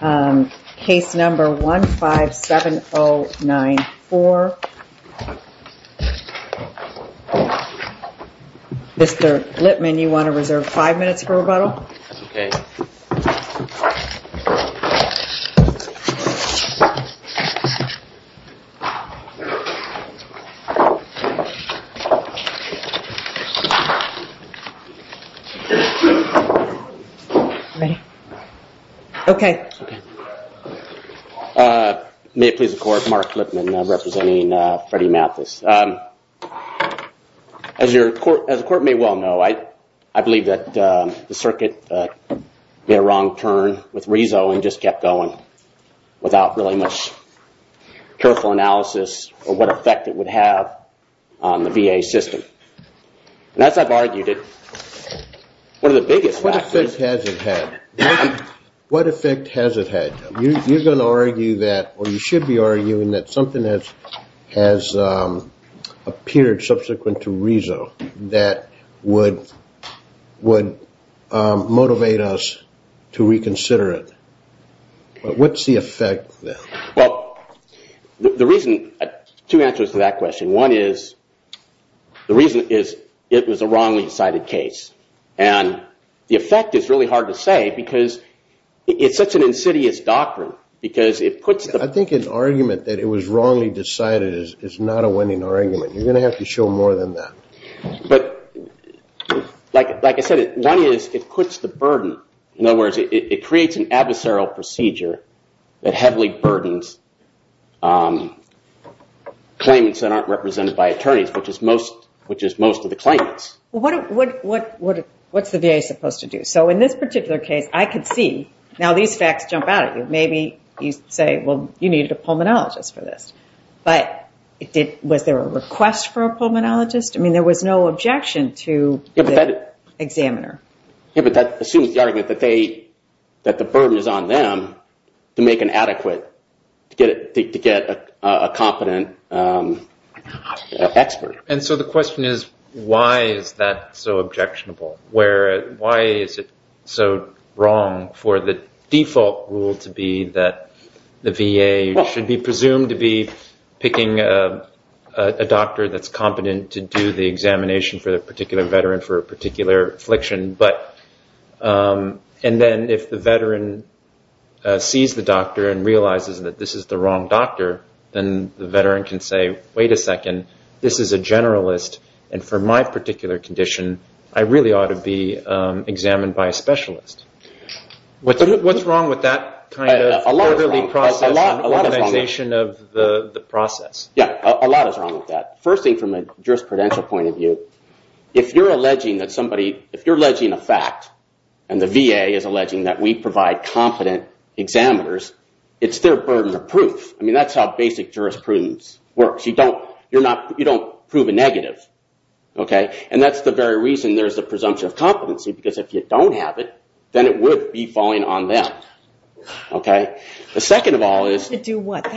case number 157094. Mr. Lippman, you want to reserve five minutes for rebuttal? May it please the court, Mark Lippman representing Freddie Mathis. As the court may well know, I believe that the circuit made a wrong turn with Rezo and just kept going without really much careful analysis of what effect it would have on the VA system. What effect has it had? You're going to argue that or you should be arguing that something has appeared subsequent to Rezo that would motivate us to reconsider it. What's the effect then? Two answers to that question. One is the reason is it was a wrongly decided case and the effect is really hard to say because it's such an insidious doctrine. I think an argument that it was wrongly decided is not a winning argument. You're going to have to show more than that. But like I said, one is it quits the burden. In other words, it creates an adversarial procedure that heavily burdens claimants that aren't represented by attorneys, which is most of the claimants. What's the VA supposed to do? So in this particular case, I could see, now these facts jump out at you. Maybe you say, well, you need a pulmonologist for this. But was there a request for a pulmonologist? I mean, there was no objection to the examiner. But that assumes the argument that the burden is on them to make an adequate, to get a competent expert. And so the question is, why is that so objectionable? Why is it so wrong for the default rule to be that the VA should be presumed to be picking a doctor that's competent to do the examination for a particular veteran for a particular affliction? And then if the veteran sees the doctor and realizes that this is the wrong doctor, then the veteran can say, wait a second. This is a generalist, and for my particular condition, I really ought to be examined by a specialist. What's wrong with that kind of orderly process and organization of the process? Yeah, a lot is wrong with that. First thing, from a jurisprudential point of view, if you're alleging a fact, and the VA is alleging that we provide competent examiners, it's their burden of proof. I mean, that's how basic jurisprudence works. You don't prove a negative. And that's the very reason there's a presumption of competency, because if you don't have it, then it would be falling on them. The second of all is... Do you get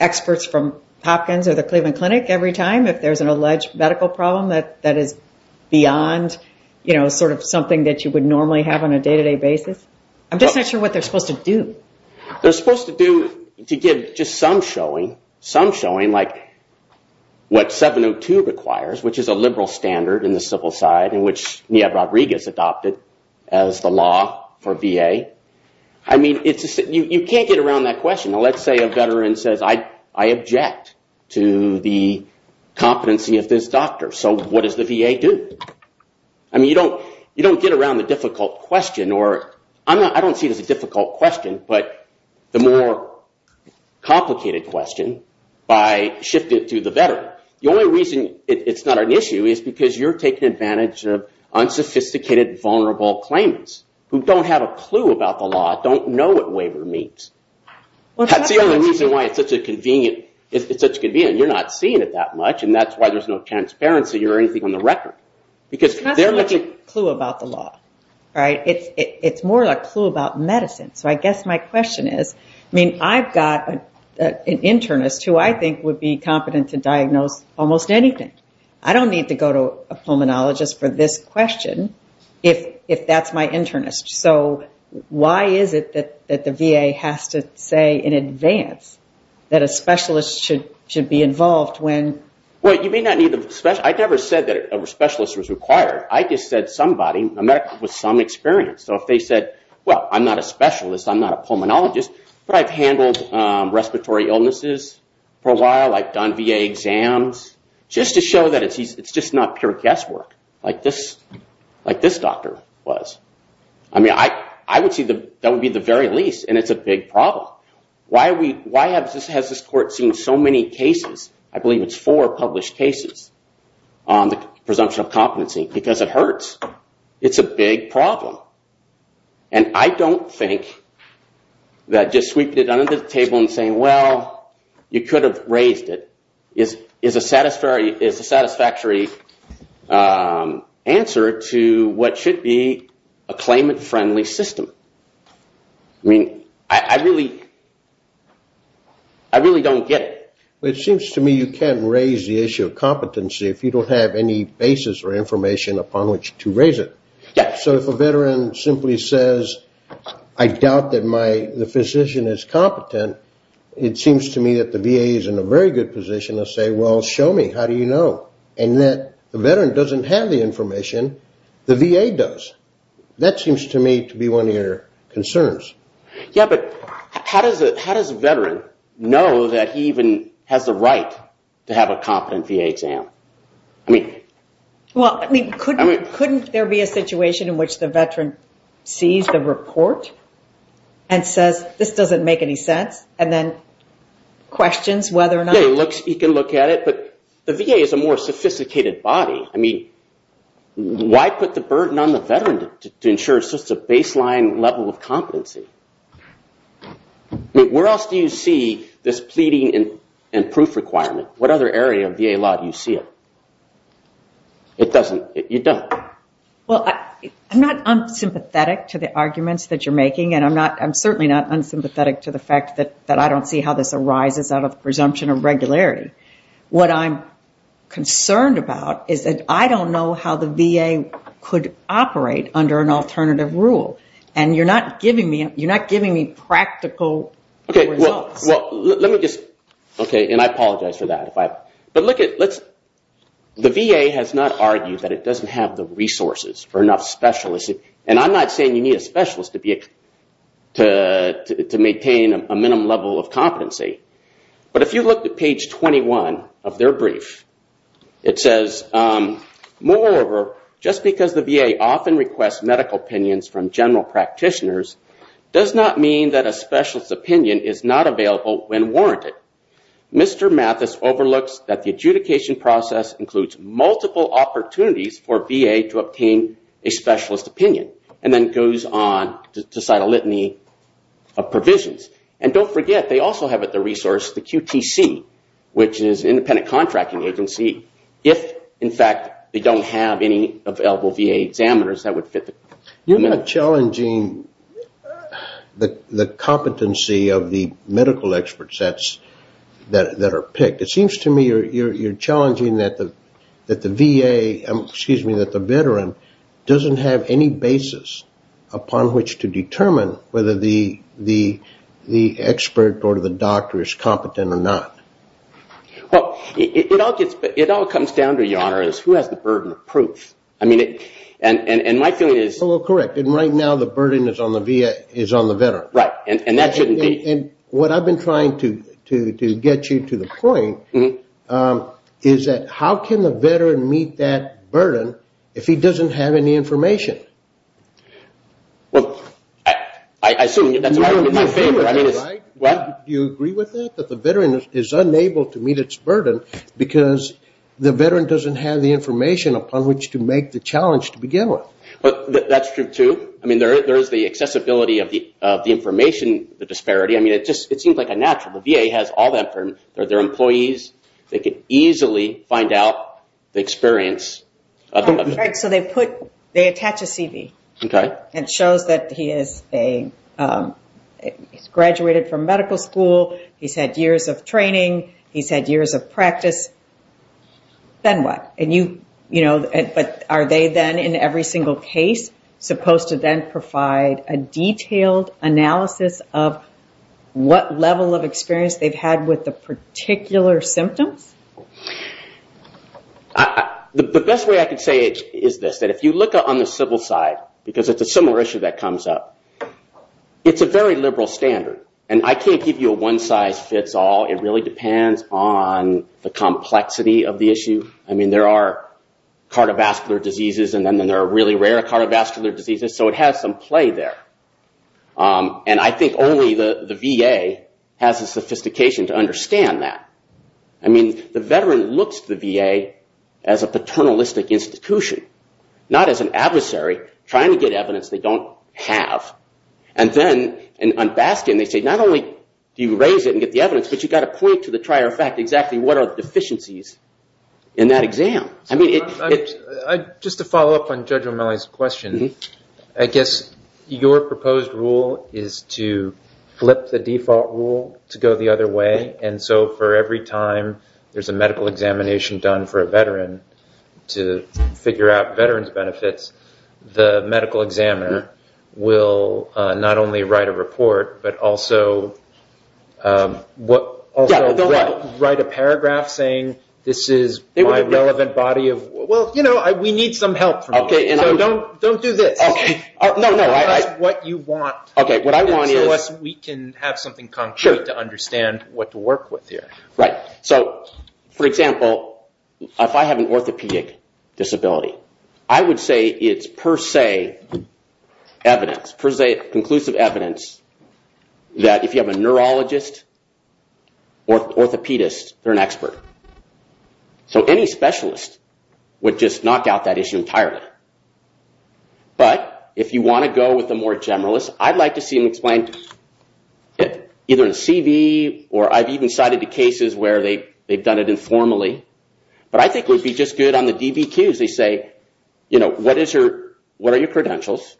experts from Hopkins or the Cleveland Clinic every time if there's an alleged medical problem that is beyond something that you would normally have on a day-to-day basis? I'm just not sure what they're supposed to do. They're supposed to give just some showing, some showing, like what 702 requires, which is a liberal standard in the civil side, and which Nia Rodriguez adopted as the law for VA. I mean, you can't get around that question. Now, let's say a veteran says, I object to the competency of this doctor. So what does the VA do? I mean, you don't get around the difficult question, or I don't see it as a difficult question, but the more complicated question by shifting it to the veteran. The only reason it's not an issue is because you're taking advantage of unsophisticated, vulnerable claimants who don't have a clue about the law, don't know what waiver means. That's the only reason why it's such a convenient... You're not seeing it that much, and that's why there's no transparency or anything on the record. It's not so much a clue about the law. It's more of a clue about medicine. So I guess my question is, I mean, I've got an internist who I think would be competent to diagnose almost anything. I don't need to go to a pulmonologist for this question if that's my internist. So why is it that the VA has to say in advance that a specialist should be involved when... Well, you may not need a specialist. I never said that a specialist was required. I just said somebody with some experience. So if they said, well, I'm not a specialist, I'm not a pulmonologist, but I've handled respiratory illnesses for a while, I've done VA exams, just to show that it's just not pure guesswork like this doctor was. I mean, I would see that would be the very least, and it's a big problem. Why has this court seen so many cases, I believe it's four published cases, on the presumption of competency? Because it hurts. It's a big problem. And I don't think that just sweeping it under the table and saying, well, you could have raised it is a satisfactory answer to what should be a claimant-friendly system. I mean, I really don't get it. basis or information upon which to raise it. So if a veteran simply says, I doubt that the physician is competent, it seems to me that the VA is in a very good position to say, well, show me. How do you know? And the veteran doesn't have the information, the VA does. That seems to me to be one of your concerns. Yeah, but how does a veteran know that he even has the right to have a competent VA exam? Well, I mean, couldn't there be a situation in which the veteran sees the report and says, this doesn't make any sense, and then questions whether or not? You can look at it, but the VA is a more sophisticated body. I mean, why put the burden on the veteran to ensure it's just a baseline level of competency? Where else do you see this pleading and proof requirement? What other area of VA law do you see it? It doesn't. You don't. Well, I'm not unsympathetic to the arguments that you're making, and I'm certainly not unsympathetic to the fact that I don't see how this arises out of presumption of regularity. What I'm concerned about is that I don't know how the VA could operate under an alternative rule, and you're not giving me practical results. Okay, and I apologize for that. The VA has not argued that it doesn't have the resources for enough specialists, and I'm not saying you need a specialist to maintain a minimum level of competency, but if you look at page 21 of their brief, it says, Moreover, just because the VA often requests medical opinions from general practitioners does not mean that a specialist opinion is not available when warranted. Mr. Mathis overlooks that the adjudication process includes multiple opportunities for VA to obtain a specialist opinion, and then goes on to cite a litany of provisions. And don't forget, they also have at their resource the QTC, which is an independent contracting agency. If, in fact, they don't have any available VA examiners, that would fit. You're not challenging the competency of the medical experts that are picked. It seems to me you're challenging that the veteran doesn't have any basis upon which to determine whether the expert or the doctor is competent or not. Well, it all comes down to, Your Honor, who has the burden of proof. I mean, and my feeling is... Well, correct, and right now the burden is on the veteran. Right, and that shouldn't be... And what I've been trying to get you to the point is that how can the veteran meet that burden if he doesn't have any information? Well, I assume that's in my favor. Do you agree with that, that the veteran is unable to meet its burden because the veteran doesn't have the information upon which to make the challenge to begin with? That's true, too. I mean, there is the accessibility of the information disparity. I mean, it seems like a natural. The VA has all that for their employees. They could easily find out the experience. Right, so they attach a CV. Okay. And it shows that he has graduated from medical school. He's had years of training. He's had years of practice. Then what? But are they then, in every single case, supposed to then provide a detailed analysis of what level of experience they've had with the particular symptoms? The best way I can say it is this, that if you look on the civil side, because it's a similar issue that comes up, it's a very liberal standard. And I can't give you a one size fits all. It really depends on the complexity of the issue. I mean, there are cardiovascular diseases, and then there are really rare cardiovascular diseases, so it has some play there. And I think only the VA has the sophistication to understand that. I mean, the veteran looks to the VA as a paternalistic institution, not as an adversary trying to get evidence they don't have. And then on Baskin, they say not only do you raise it and get the evidence, but you've got to point to the prior fact exactly what are the deficiencies in that exam. Just to follow up on Judge O'Malley's question, I guess your proposed rule is to flip the default rule to go the other way. And so for every time there's a medical examination done for a veteran to figure out veteran's benefits, the medical examiner will not only write a report, but also write a paragraph saying this is my relevant body of work. Well, you know, we need some help from you, so don't do this. Tell us what you want so we can have something concrete to understand what to work with here. For example, if I have an orthopedic disability, I would say it's per se conclusive evidence that if you have a neurologist or an orthopedist, they're an expert. So any specialist would just knock out that issue entirely. But if you want to go with a more generalist, I'd like to see them explain either a CV or I've even cited the cases where they've done it informally. But I think it would be just good on the DBQs, they say, you know, what are your credentials?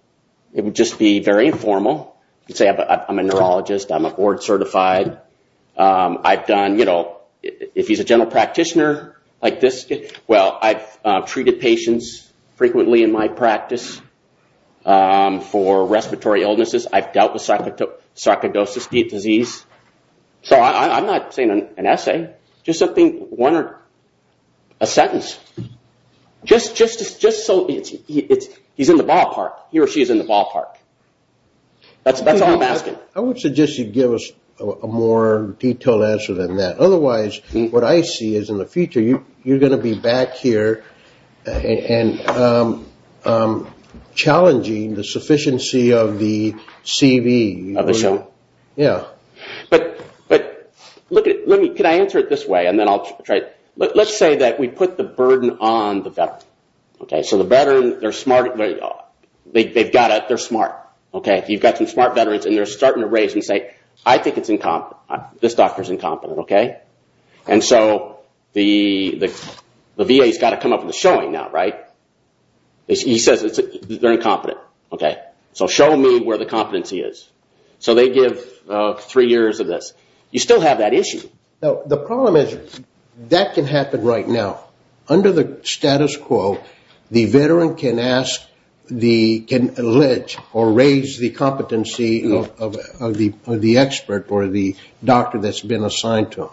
It would just be very informal. You could say, I'm a neurologist, I'm a board certified. I've done, you know, if he's a general practitioner, like this. Well, I've treated patients frequently in my practice for respiratory illnesses. I've dealt with sarcoidosis disease. So I'm not saying an essay, just something, one or a sentence. Just so he's in the ballpark, he or she is in the ballpark. That's all I'm asking. I would suggest you give us a more detailed answer than that. Otherwise, what I see is in the future, you're going to be back here and challenging the sufficiency of the CV. But look at it, can I answer it this way? Let's say that we put the burden on the veteran. So the veteran, they've got it, they're smart. You've got some smart veterans and they're starting to raise and say, I think it's incompetent. And so the VA's got to come up with a showing now, right? He says they're incompetent. So show me where the competency is. So they give three years of this. You still have that issue. The problem is that can happen right now. Under the status quo, the veteran can ask, can allege or raise the competency of the expert or the doctor that's been assigned to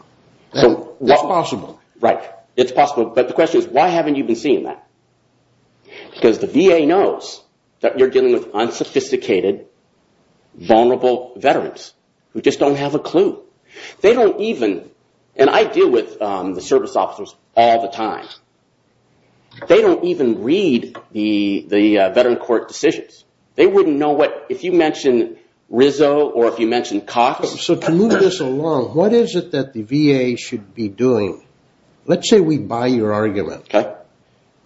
them. It's possible. Right. It's possible. But the question is, why haven't you been seeing that? Because the VA knows that you're dealing with unsophisticated, vulnerable veterans who just don't have a clue. They don't even, and I deal with the service officers all the time. They don't even read the veteran court decisions. They wouldn't know what, if you mention Rizzo or if you mention Cox. So to move this along, what is it that the VA should be doing? Let's say we buy your argument. Okay.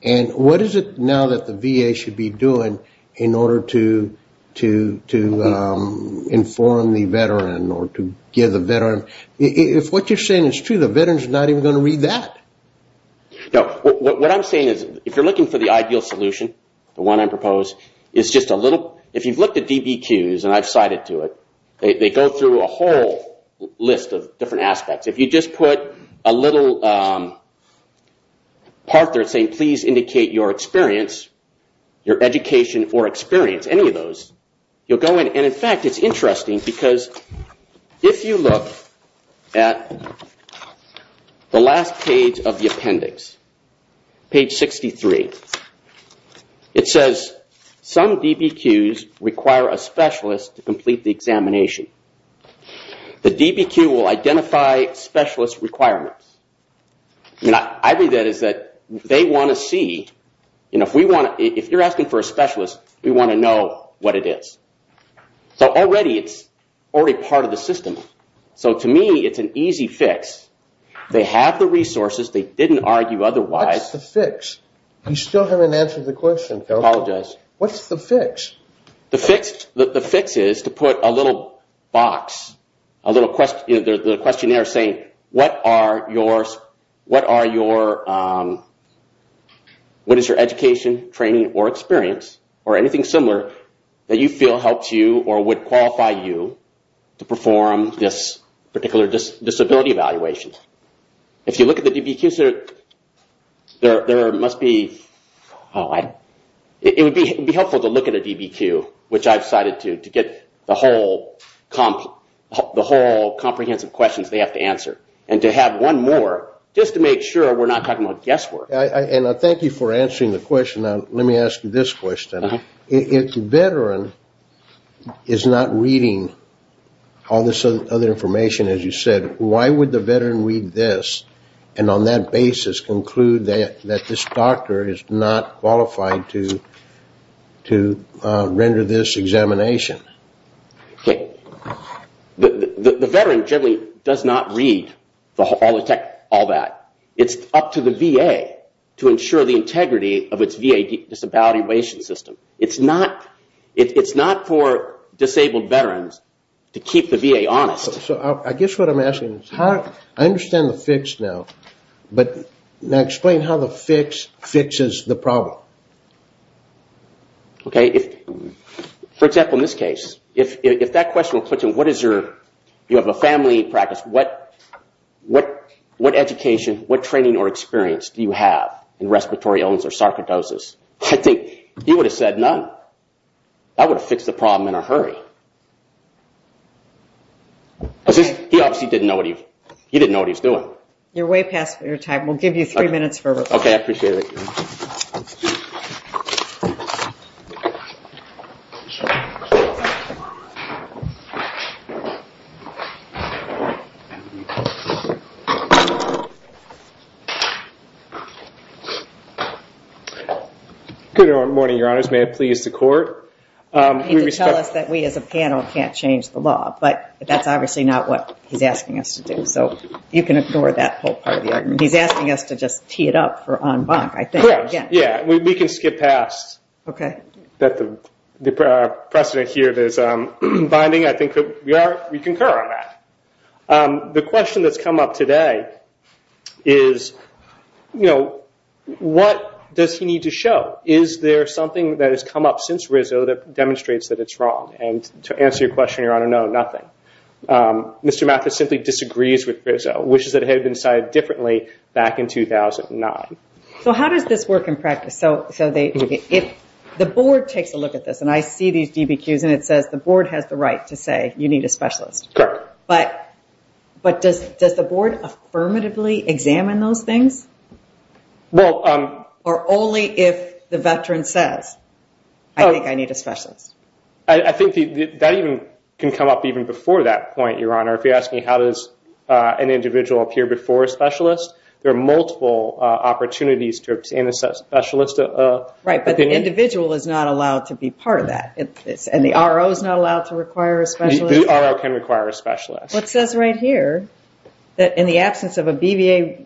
And what is it now that the VA should be doing in order to inform the veteran or to give the veteran? If what you're saying is true, the veteran's not even going to read that. Now, what I'm saying is, if you're looking for the ideal solution, the one I propose, if you've looked at DBQs, and I've cited to it, they go through a whole list of different aspects. If you just put a little part there saying, please indicate your experience, your education or experience, any of those, and in fact, it's interesting because if you look at the last page of the appendix, page 63, it says some DBQs require a specialist to complete the examination. The DBQ will identify specialist requirements. I read that as that they want to see, if you're asking for a specialist, we want to know what it is. So already, it's already part of the system. So to me, it's an easy fix. They have the resources. They didn't argue otherwise. What's the fix? You still haven't answered the question. Apologize. What's the fix? The fix is to put a little box, a little questionnaire saying, what is your education, training or experience or anything similar that you feel helps you or would qualify you to perform this particular disability evaluation. If you look at the DBQs, it would be helpful to look at a DBQ, which I've cited to get the whole comprehensive questions they have to answer. And to have one more, just to make sure we're not talking about guesswork. Thank you for answering the question. Let me ask you this question. If the veteran is not reading all this other information, as you said, why would the veteran read this and on that basis conclude that this doctor is not qualified to render this examination? The veteran generally does not read all that. It's up to the VA to ensure the integrity of its VA disability evaluation system. It's not for disabled veterans to keep the VA honest. I guess what I'm asking is, I understand the fix now, but explain how the fix fixes the problem. For example, in this case, if that question were put to him, you have a family practice, what education, what training or experience do you have in respiratory illness or sarcoidosis, I think he would have said none. That would have fixed the problem in a hurry. He obviously didn't know what he was doing. You're way past your time. We'll give you three minutes for a report. Okay, I appreciate it. Good morning, Your Honors. May it please the Court. He did tell us that we as a panel can't change the law, but that's obviously not what he's asking us to do. So you can ignore that whole part of the argument. He's asking us to just tee it up for en banc. I think that's what he's asking us to do. We can skip past the precedent here that is binding. I think we concur on that. The question that's come up today is, what does he need to show? Is there something that has come up since Rizzo that demonstrates that it's wrong? To answer your question, Your Honor, no, nothing. Mr. Mathis simply disagrees with Rizzo, which is that it had been decided differently back in 2009. So how does this work in practice? The Board takes a look at this, and I see these DBQs, and it says the Board has the right to say you need a specialist. Correct. But does the Board affirmatively examine those things? Well, Or only if the veteran says, I think I need a specialist. I think that even can come up even before that point, Your Honor. If you're asking how does an individual appear before a specialist, there are multiple opportunities to obtain a specialist. Right, but the individual is not allowed to be part of that, and the RO is not allowed to require a specialist. The RO can require a specialist. It says right here that in the absence of a BVA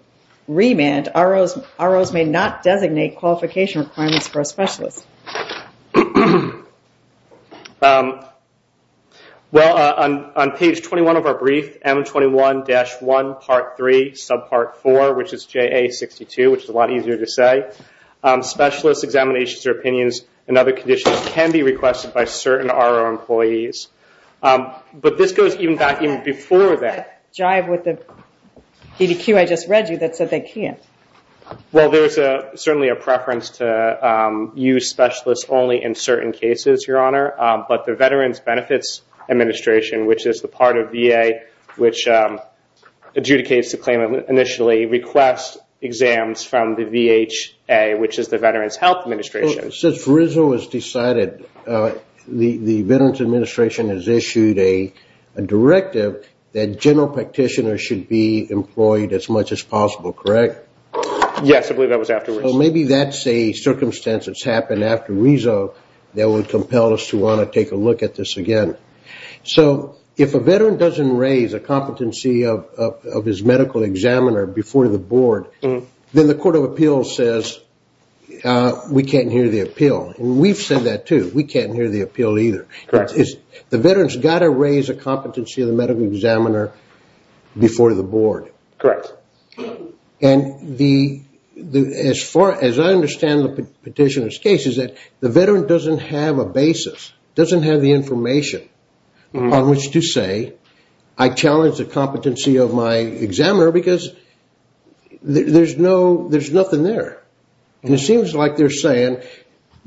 remand, ROs may not designate qualification requirements for a specialist. Well, on page 21 of our brief, M21-1, Part 3, Subpart 4, which is JA62, which is a lot easier to say, specialist examinations or opinions and other conditions can be requested by certain RO employees. But this goes even back even before that. That jive with the DBQ I just read you that said they can't. Well, there's certainly a preference to use specialists only in certain cases, Your Honor, but the Veterans Benefits Administration, which is the part of VA, which adjudicates the claim initially, requests exams from the VHA, which is the Veterans Health Administration. Since RISD was decided, the Veterans Administration has issued a directive that general practitioners should be employed as much as possible, correct? Yes, I believe that was afterwards. So maybe that's a circumstance that's happened after RISD that would compel us to want to take a look at this again. So if a veteran doesn't raise a competency of his medical examiner before the board, then the Court of Appeals says we can't hear the appeal. And we've said that too. We can't hear the appeal either. The veteran's got to raise a competency of the medical examiner before the board. Correct. And as far as I understand the petitioner's case, is that the veteran doesn't have a basis, doesn't have the information on which to say, I challenge the competency of my examiner because there's nothing there. And it seems like they're saying,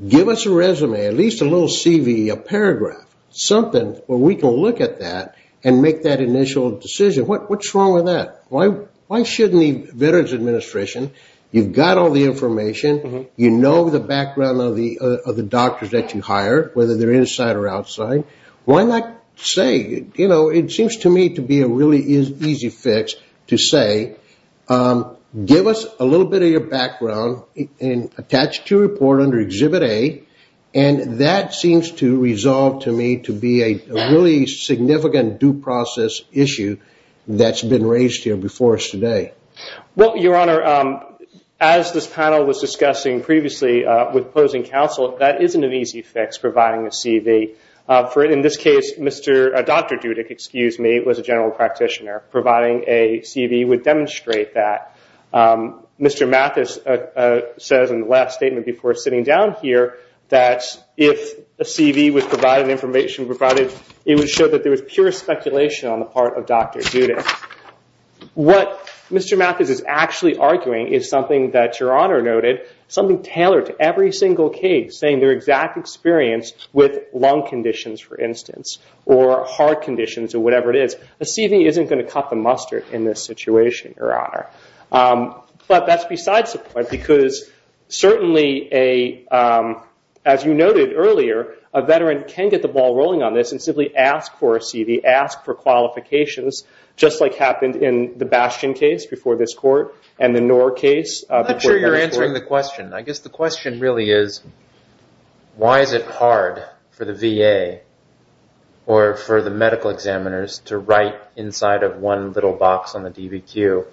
give us a resume, at least a little CV, a paragraph, something where we can look at that and make that initial decision. What's wrong with that? Why shouldn't the Veterans Administration, you've got all the information, you know the background of the doctors that you hire, whether they're inside or outside, why not say, you know, it seems to me to be a really easy fix to say, give us a little bit of your background and attach it to a report under Exhibit A. And that seems to resolve to me to be a really significant due process issue that's been raised here before us today. Well, Your Honor, as this panel was discussing previously with opposing counsel, that isn't an easy fix, providing a CV. In this case, Dr. Dudick was a general practitioner. Providing a CV would demonstrate that. Mr. Mathis says in the last statement before sitting down here, that if a CV was provided, information provided, it would show that there was pure speculation on the part of Dr. Dudick. What Mr. Mathis is actually arguing is something that Your Honor noted, something tailored to every single case, saying their exact experience with lung conditions, for instance, or heart conditions, or whatever it is. A CV isn't going to cut the mustard in this situation, Your Honor. But that's besides the point, because certainly, as you noted earlier, a veteran can get the ball rolling on this and simply ask for a CV, ask for qualifications, just like happened in the Bastion case before this court, and the Knorr case. I'm not sure you're answering the question. I guess the question really is, why is it hard for the VA or for the medical examiners to write inside of one little box on the DBQ?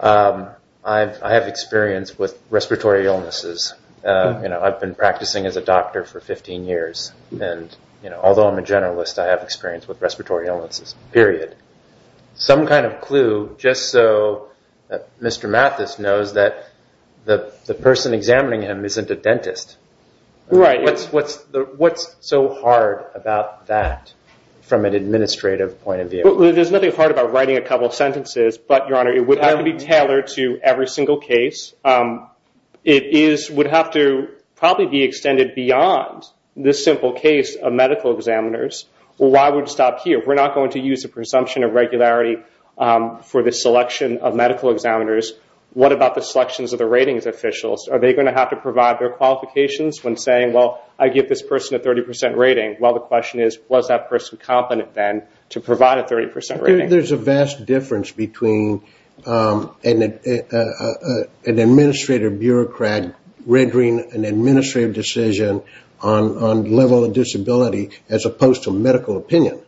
I have experience with respiratory illnesses. I've been practicing as a doctor for 15 years, and although I'm a generalist, I have experience with respiratory illnesses, period. Some kind of clue, just so that Mr. Mathis knows that the person examining him isn't a dentist. What's so hard about that from an administrative point of view? There's nothing hard about writing a couple of sentences, but, Your Honor, it would have to be tailored to every single case. It would have to probably be extended beyond this simple case of medical examiners. Why would it stop here? We're not going to use a presumption of regularity for the selection of medical examiners. What about the selections of the ratings officials? Are they going to have to provide their qualifications when saying, well, I give this person a 30% rating? Well, the question is, was that person competent then to provide a 30% rating? I think there's a vast difference between an administrative bureaucrat rendering an administrative decision on level of disability as opposed to medical opinion.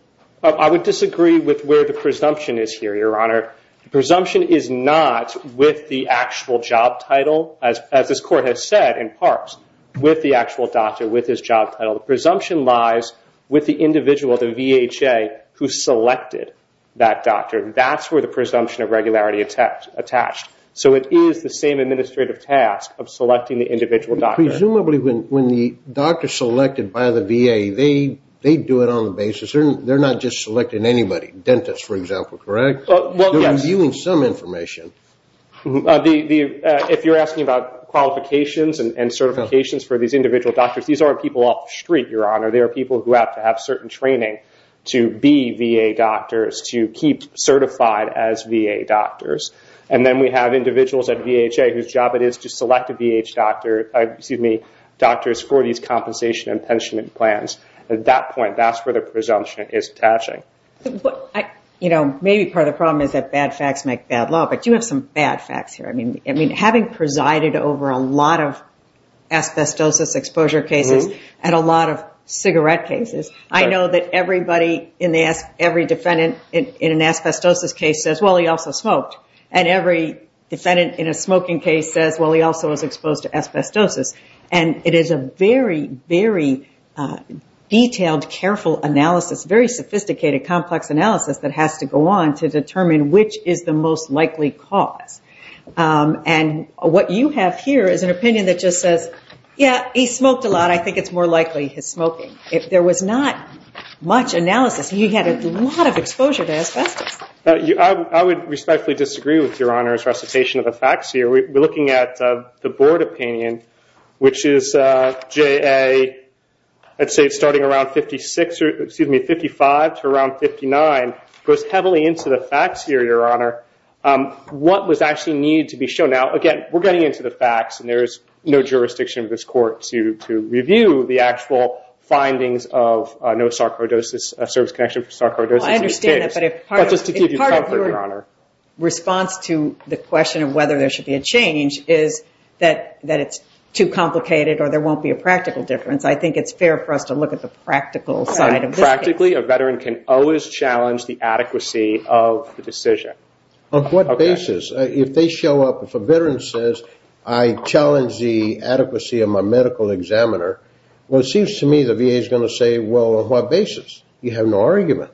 I would disagree with where the presumption is here, Your Honor. The presumption is not with the actual job title, as this Court has said in parts, with the actual doctor, with his job title. The presumption lies with the individual, the VHA, who selected that doctor. That's where the presumption of regularity attached. So it is the same administrative task of selecting the individual doctor. Presumably when the doctor is selected by the VA, they do it on the basis. They're not just selecting anybody, dentists, for example, correct? They're reviewing some information. If you're asking about qualifications and certifications for these individual doctors, these aren't people off the street, Your Honor. They are people who have to have certain training to be VA doctors, to keep certified as VA doctors. And then we have individuals at VHA whose job it is to select doctors for these compensation and pension plans. At that point, that's where the presumption is attaching. Maybe part of the problem is that bad facts make bad law. But you have some bad facts here. Having presided over a lot of asbestosis exposure cases and a lot of cigarette cases, I know that every defendant in an asbestosis case says, well, he also smoked. And every defendant in a smoking case says, well, he also was exposed to asbestosis. And it is a very, very detailed, careful analysis, very sophisticated, complex analysis that has to go on to determine which is the most likely cause. And what you have here is an opinion that just says, yeah, he smoked a lot. I think it's more likely his smoking. If there was not much analysis, he had a lot of exposure to asbestos. I would respectfully disagree with Your Honor's recitation of the facts here. We're looking at the board opinion, which is JA, I'd say starting around 55 to around 59, goes heavily into the facts here, Your Honor, what was actually needed to be shown. Now, again, we're getting into the facts, and there is no jurisdiction of this court to review the actual findings of no sarcoidosis, a service connection for sarcoidosis in this case. I understand that, but if part of your response to the question of whether there should be a change is that it's too complicated or there won't be a practical difference, I think it's fair for us to look at the practical side of this case. Practically, a veteran can always challenge the adequacy of the decision. On what basis? If a veteran says, I challenge the adequacy of my medical examiner, well, it seems to me the VA is going to say, well, on what basis? You have no argument.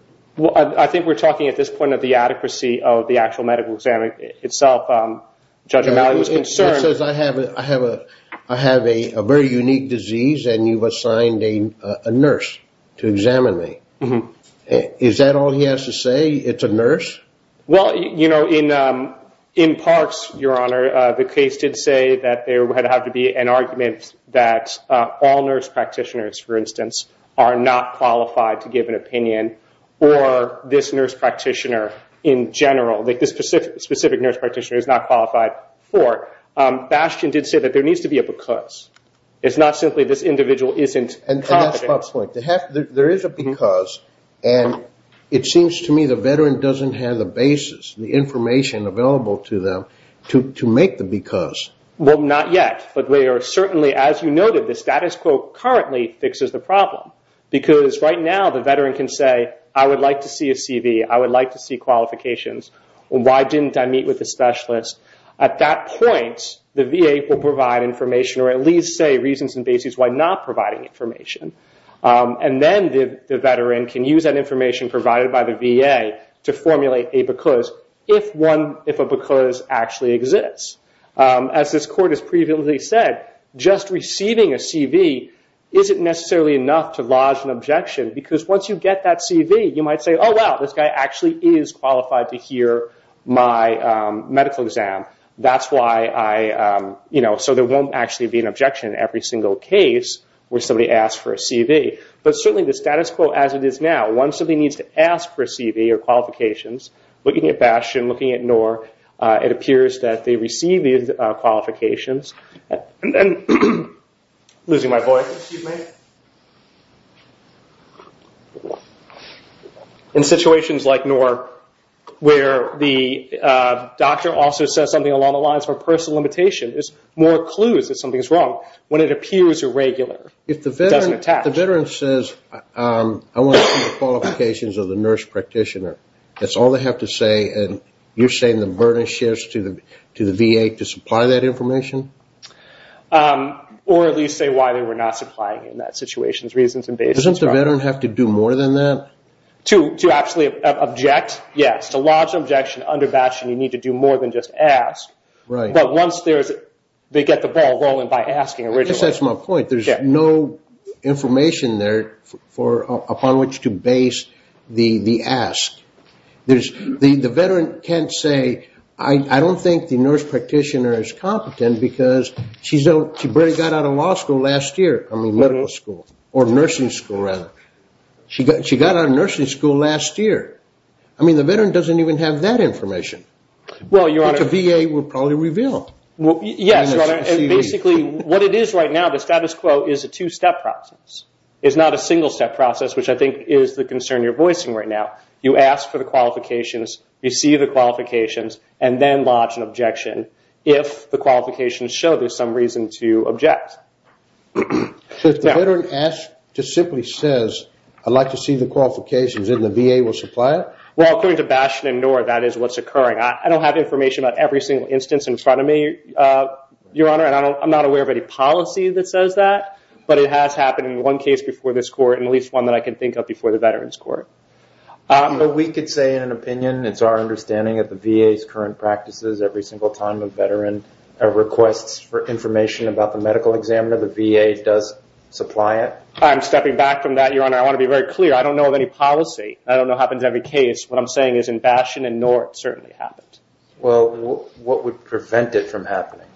I think we're talking at this point of the adequacy of the actual medical exam itself. Judge O'Malley was concerned. He says, I have a very unique disease, and you've assigned a nurse to examine me. Is that all he has to say, it's a nurse? Well, you know, in parts, Your Honor, the case did say that there would have to be an argument that all nurse practitioners, for instance, are not qualified to give an opinion or this nurse practitioner in general, this specific nurse practitioner is not qualified for. Bastian did say that there needs to be a because. It's not simply this individual isn't competent. And that's Bob's point. There is a because, and it seems to me the veteran doesn't have the basis, the information available to them to make the because. Well, not yet. But we are certainly, as you noted, the status quo currently fixes the problem because right now the veteran can say, I would like to see a CV. I would like to see qualifications. Why didn't I meet with a specialist? At that point, the VA will provide information or at least say reasons and basis why not providing information. And then the veteran can use that information provided by the VA to formulate a because if a because actually exists. As this court has previously said, just receiving a CV isn't necessarily enough to lodge an objection because once you get that CV, you might say, oh, wow, this guy actually is qualified to hear my medical exam. That's why I, you know, so there won't actually be an objection in every single case where somebody asks for a CV. But certainly the status quo as it is now, once somebody needs to ask for a CV or qualifications, looking at Bastian, looking at Noor, it appears that they receive these qualifications. Losing my voice. Excuse me. In situations like Noor where the doctor also says something along the lines of a personal limitation, there's more clues that something is wrong when it appears irregular. It doesn't attach. If the veteran says, I want to see the qualifications of the nurse practitioner, that's all they have to say and you're saying the burden shifts to the VA to supply that information? Or at least say why they were not supplying in that situation, reasons and basis. Doesn't the veteran have to do more than that? To actually object, yes. To lodge an objection under Bastian, you need to do more than just ask. But once they get the ball rolling by asking originally. I guess that's my point. There's no information there upon which to base the ask. The veteran can't say, I don't think the nurse practitioner is competent because she barely got out of law school last year. I mean, medical school. Or nursing school, rather. She got out of nursing school last year. I mean, the veteran doesn't even have that information. Which the VA will probably reveal. Yes. Basically, what it is right now, the status quo is a two-step process. It's not a single-step process, which I think is the concern you're voicing right now. You ask for the qualifications, receive the qualifications, and then lodge an objection. If the qualifications show there's some reason to object. So if the veteran asks, just simply says, I'd like to see the qualifications, and the VA will supply it? Well, according to Bastian and Noor, that is what's occurring. I don't have information on every single instance in front of me, Your Honor. And I'm not aware of any policy that says that. But it has happened in one case before this court, and at least one that I can think of before the Veterans Court. But we could say, in an opinion, it's our understanding that the VA's current practices, every single time a veteran requests for information about the medical examiner, the VA does supply it? I'm stepping back from that, Your Honor. I want to be very clear. I don't know of any policy. I don't know it happens in every case. What I'm saying is in Bastian and Noor, it certainly happens. Well, what would prevent it from happening?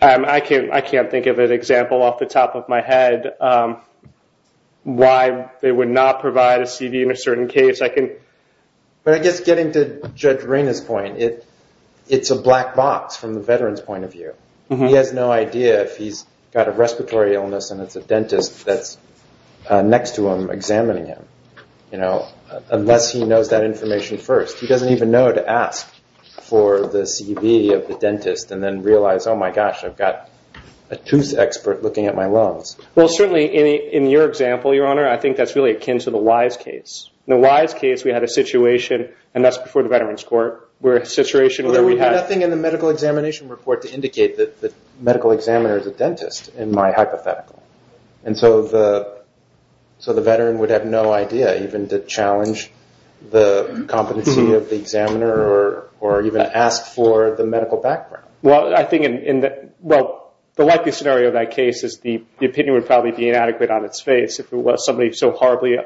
I can't think of an example off the top of my head why they would not provide a CV in a certain case. But I guess getting to Judge Reina's point, it's a black box from the veteran's point of view. He has no idea if he's got a respiratory illness and it's a dentist that's next to him examining him, unless he knows that information first. He doesn't even know to ask for the CV of the dentist and then realize, oh, my gosh, I've got a tooth expert looking at my lungs. Well, certainly in your example, Your Honor, I think that's really akin to the Wise case. In the Wise case, we had a situation, and that's before the Veterans Court, where a situation where we had— Well, we had nothing in the medical examination report to indicate that the medical examiner is a dentist, in my hypothetical. And so the veteran would have no idea even to challenge the competency of the examiner or even ask for the medical background. Well, I think the likely scenario of that case is the opinion would probably be inadequate on its face if it was somebody so horribly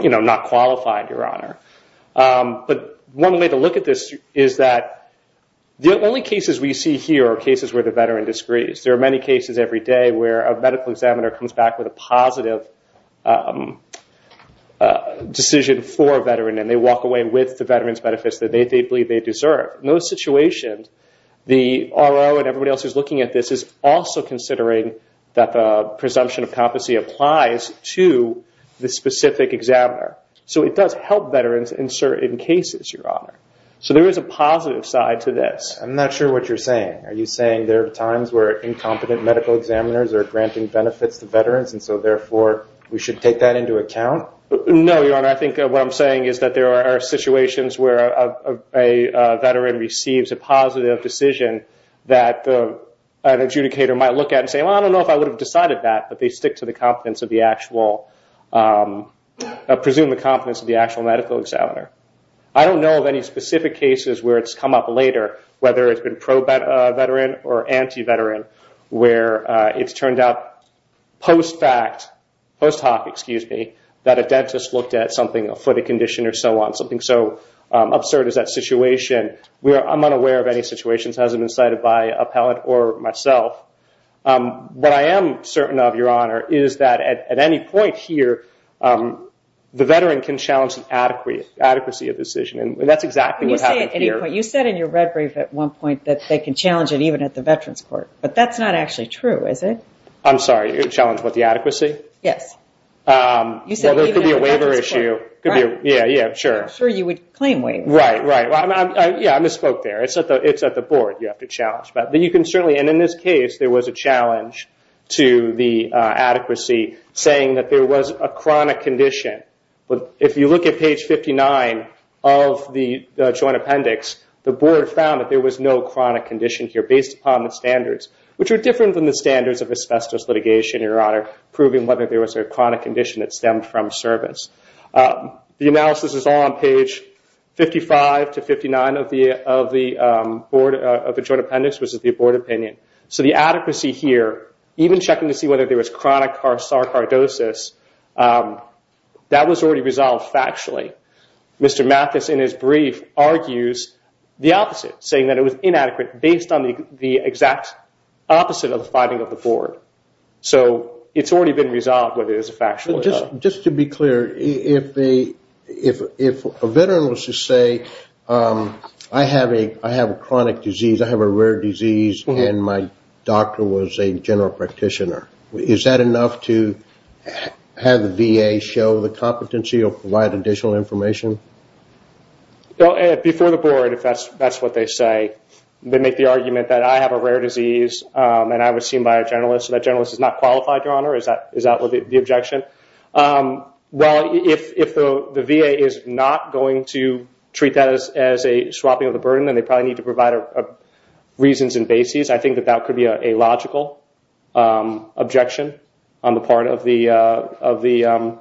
not qualified, Your Honor. But one way to look at this is that the only cases we see here are cases where the veteran disagrees. There are many cases every day where a medical examiner comes back with a positive decision for a veteran, and they walk away with the veteran's benefits that they believe they deserve. In those situations, the RO and everybody else who's looking at this is also considering that the presumption of competency applies to the specific examiner. So it does help veterans insert in cases, Your Honor. So there is a positive side to this. I'm not sure what you're saying. Are you saying there are times where incompetent medical examiners are granting benefits to veterans, and so, therefore, we should take that into account? No, Your Honor. I think what I'm saying is that there are situations where a veteran receives a positive decision that an adjudicator might look at and say, well, I don't know if I would have decided that, but they stick to the competence of the actual medical examiner. I don't know of any specific cases where it's come up later, whether it's been pro-veteran or anti-veteran, where it's turned out post-fact, post hoc, excuse me, that a dentist looked at something, a foot condition or so on, something so absurd as that situation. I'm unaware of any situations. It hasn't been cited by appellate or myself. What I am certain of, Your Honor, is that at any point here, the veteran can challenge an adequacy of decision, and that's exactly what happened here. You said in your red brief at one point that they can challenge it even at the Veterans Court, but that's not actually true, is it? I'm sorry, you're challenging the adequacy? Yes. Well, there could be a waiver issue. I'm sure you would claim waivers. Right, right. Yeah, I misspoke there. It's at the board you have to challenge. In this case, there was a challenge to the adequacy saying that there was a chronic condition. If you look at page 59 of the joint appendix, the board found that there was no chronic condition here based upon the standards, which are different than the standards of asbestos litigation, Your Honor, proving whether there was a chronic condition that stemmed from service. The analysis is all on page 55 to 59 of the joint appendix, which is the board opinion. So the adequacy here, even checking to see whether there was chronic sarcoidosis, that was already resolved factually. Mr. Mathis, in his brief, argues the opposite, saying that it was inadequate based on the exact opposite of the finding of the board. So it's already been resolved whether there's a factual error. Just to be clear, if a veteran was to say, I have a chronic disease, I have a rare disease, and my doctor was a general practitioner, is that enough to have the VA show the competency or provide additional information? Before the board, if that's what they say, they make the argument that I have a rare disease and I was seen by a generalist, so that generalist is not qualified, Your Honor. Is that the objection? Well, if the VA is not going to treat that as a swapping of the burden, then they probably need to provide reasons and bases. I think that that could be a logical objection on the part of the...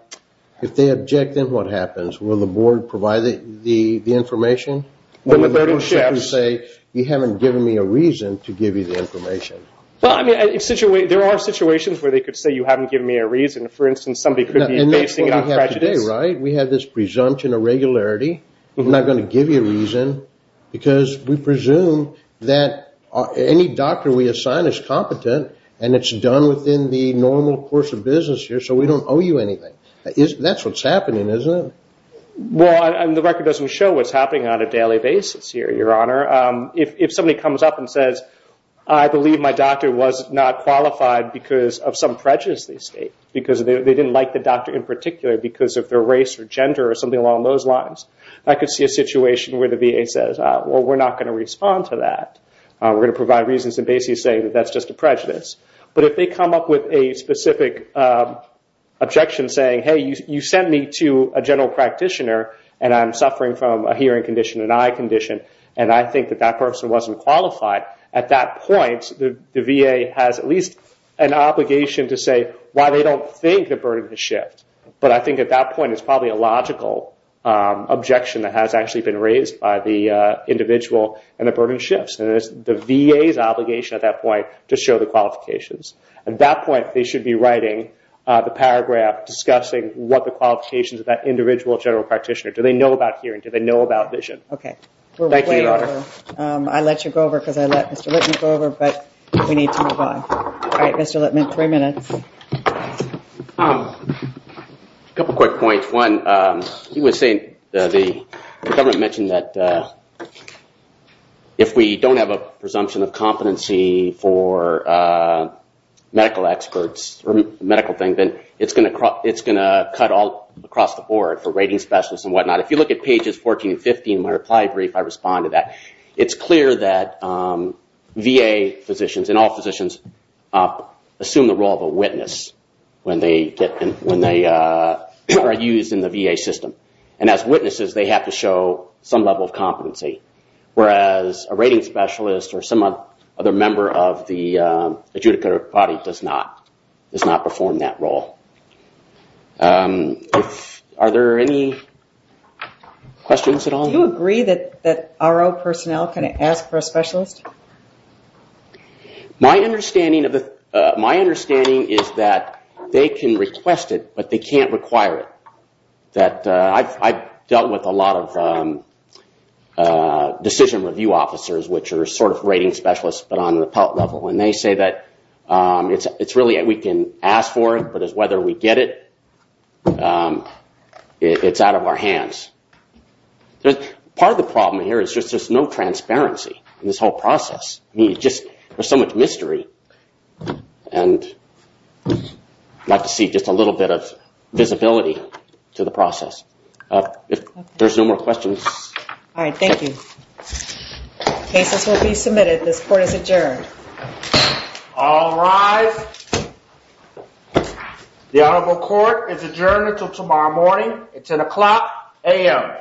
If they object, then what happens? Will the board provide the information? Or will the board simply say, you haven't given me a reason to give you the information? There are situations where they could say you haven't given me a reason. For instance, somebody could be basing it on prejudice. And that's what we have today, right? We have this presumption of regularity. We're not going to give you a reason because we presume that any doctor we assign is competent and it's done within the normal course of business here, so we don't owe you anything. That's what's happening, isn't it? Well, the record doesn't show what's happening on a daily basis here, Your Honor. If somebody comes up and says, I believe my doctor was not qualified because of some prejudice they state, because they didn't like the doctor in particular because of their race or gender or something along those lines, I could see a situation where the VA says, well, we're not going to respond to that. We're going to provide reasons and bases saying that that's just a prejudice. But if they come up with a specific objection saying, hey, you sent me to a general practitioner and I'm suffering from a hearing condition, an eye condition, and I think that that person wasn't qualified, at that point the VA has at least an obligation to say why they don't think the burden has shifted. But I think at that point it's probably a logical objection that has actually been raised by the individual and the burden shifts, and it's the VA's obligation at that point to show the qualifications. At that point they should be writing the paragraph discussing what the qualifications of that individual general practitioner. Do they know about hearing? Do they know about vision? Okay. Thank you, Your Honor. I let you go over because I let Mr. Lippman go over, but we need to move on. All right, Mr. Lippman, three minutes. A couple quick points. One, you were saying the government mentioned that if we don't have a presumption of competency for medical experts or medical things, then it's going to cut all across the board for rating specialists and whatnot. If you look at pages 14 and 15 of my reply brief, I respond to that. It's clear that VA physicians and all physicians assume the role of a witness when they are used in the VA system, and as witnesses they have to show some level of competency, whereas a rating specialist or some other member of the adjudicator body does not perform that role. Are there any questions at all? Do you agree that RO personnel can ask for a specialist? My understanding is that they can request it, but they can't require it. I've dealt with a lot of decision review officers which are sort of rating specialists, but on an appellate level, and they say that it's really we can ask for it, but whether we get it, it's out of our hands. Part of the problem here is just there's no transparency in this whole process. There's so much mystery, and I'd like to see just a little bit of visibility to the process. If there's no more questions. All right, thank you. Cases will be submitted. This court is adjourned. All rise. The honorable court is adjourned until tomorrow morning at 10 o'clock a.m.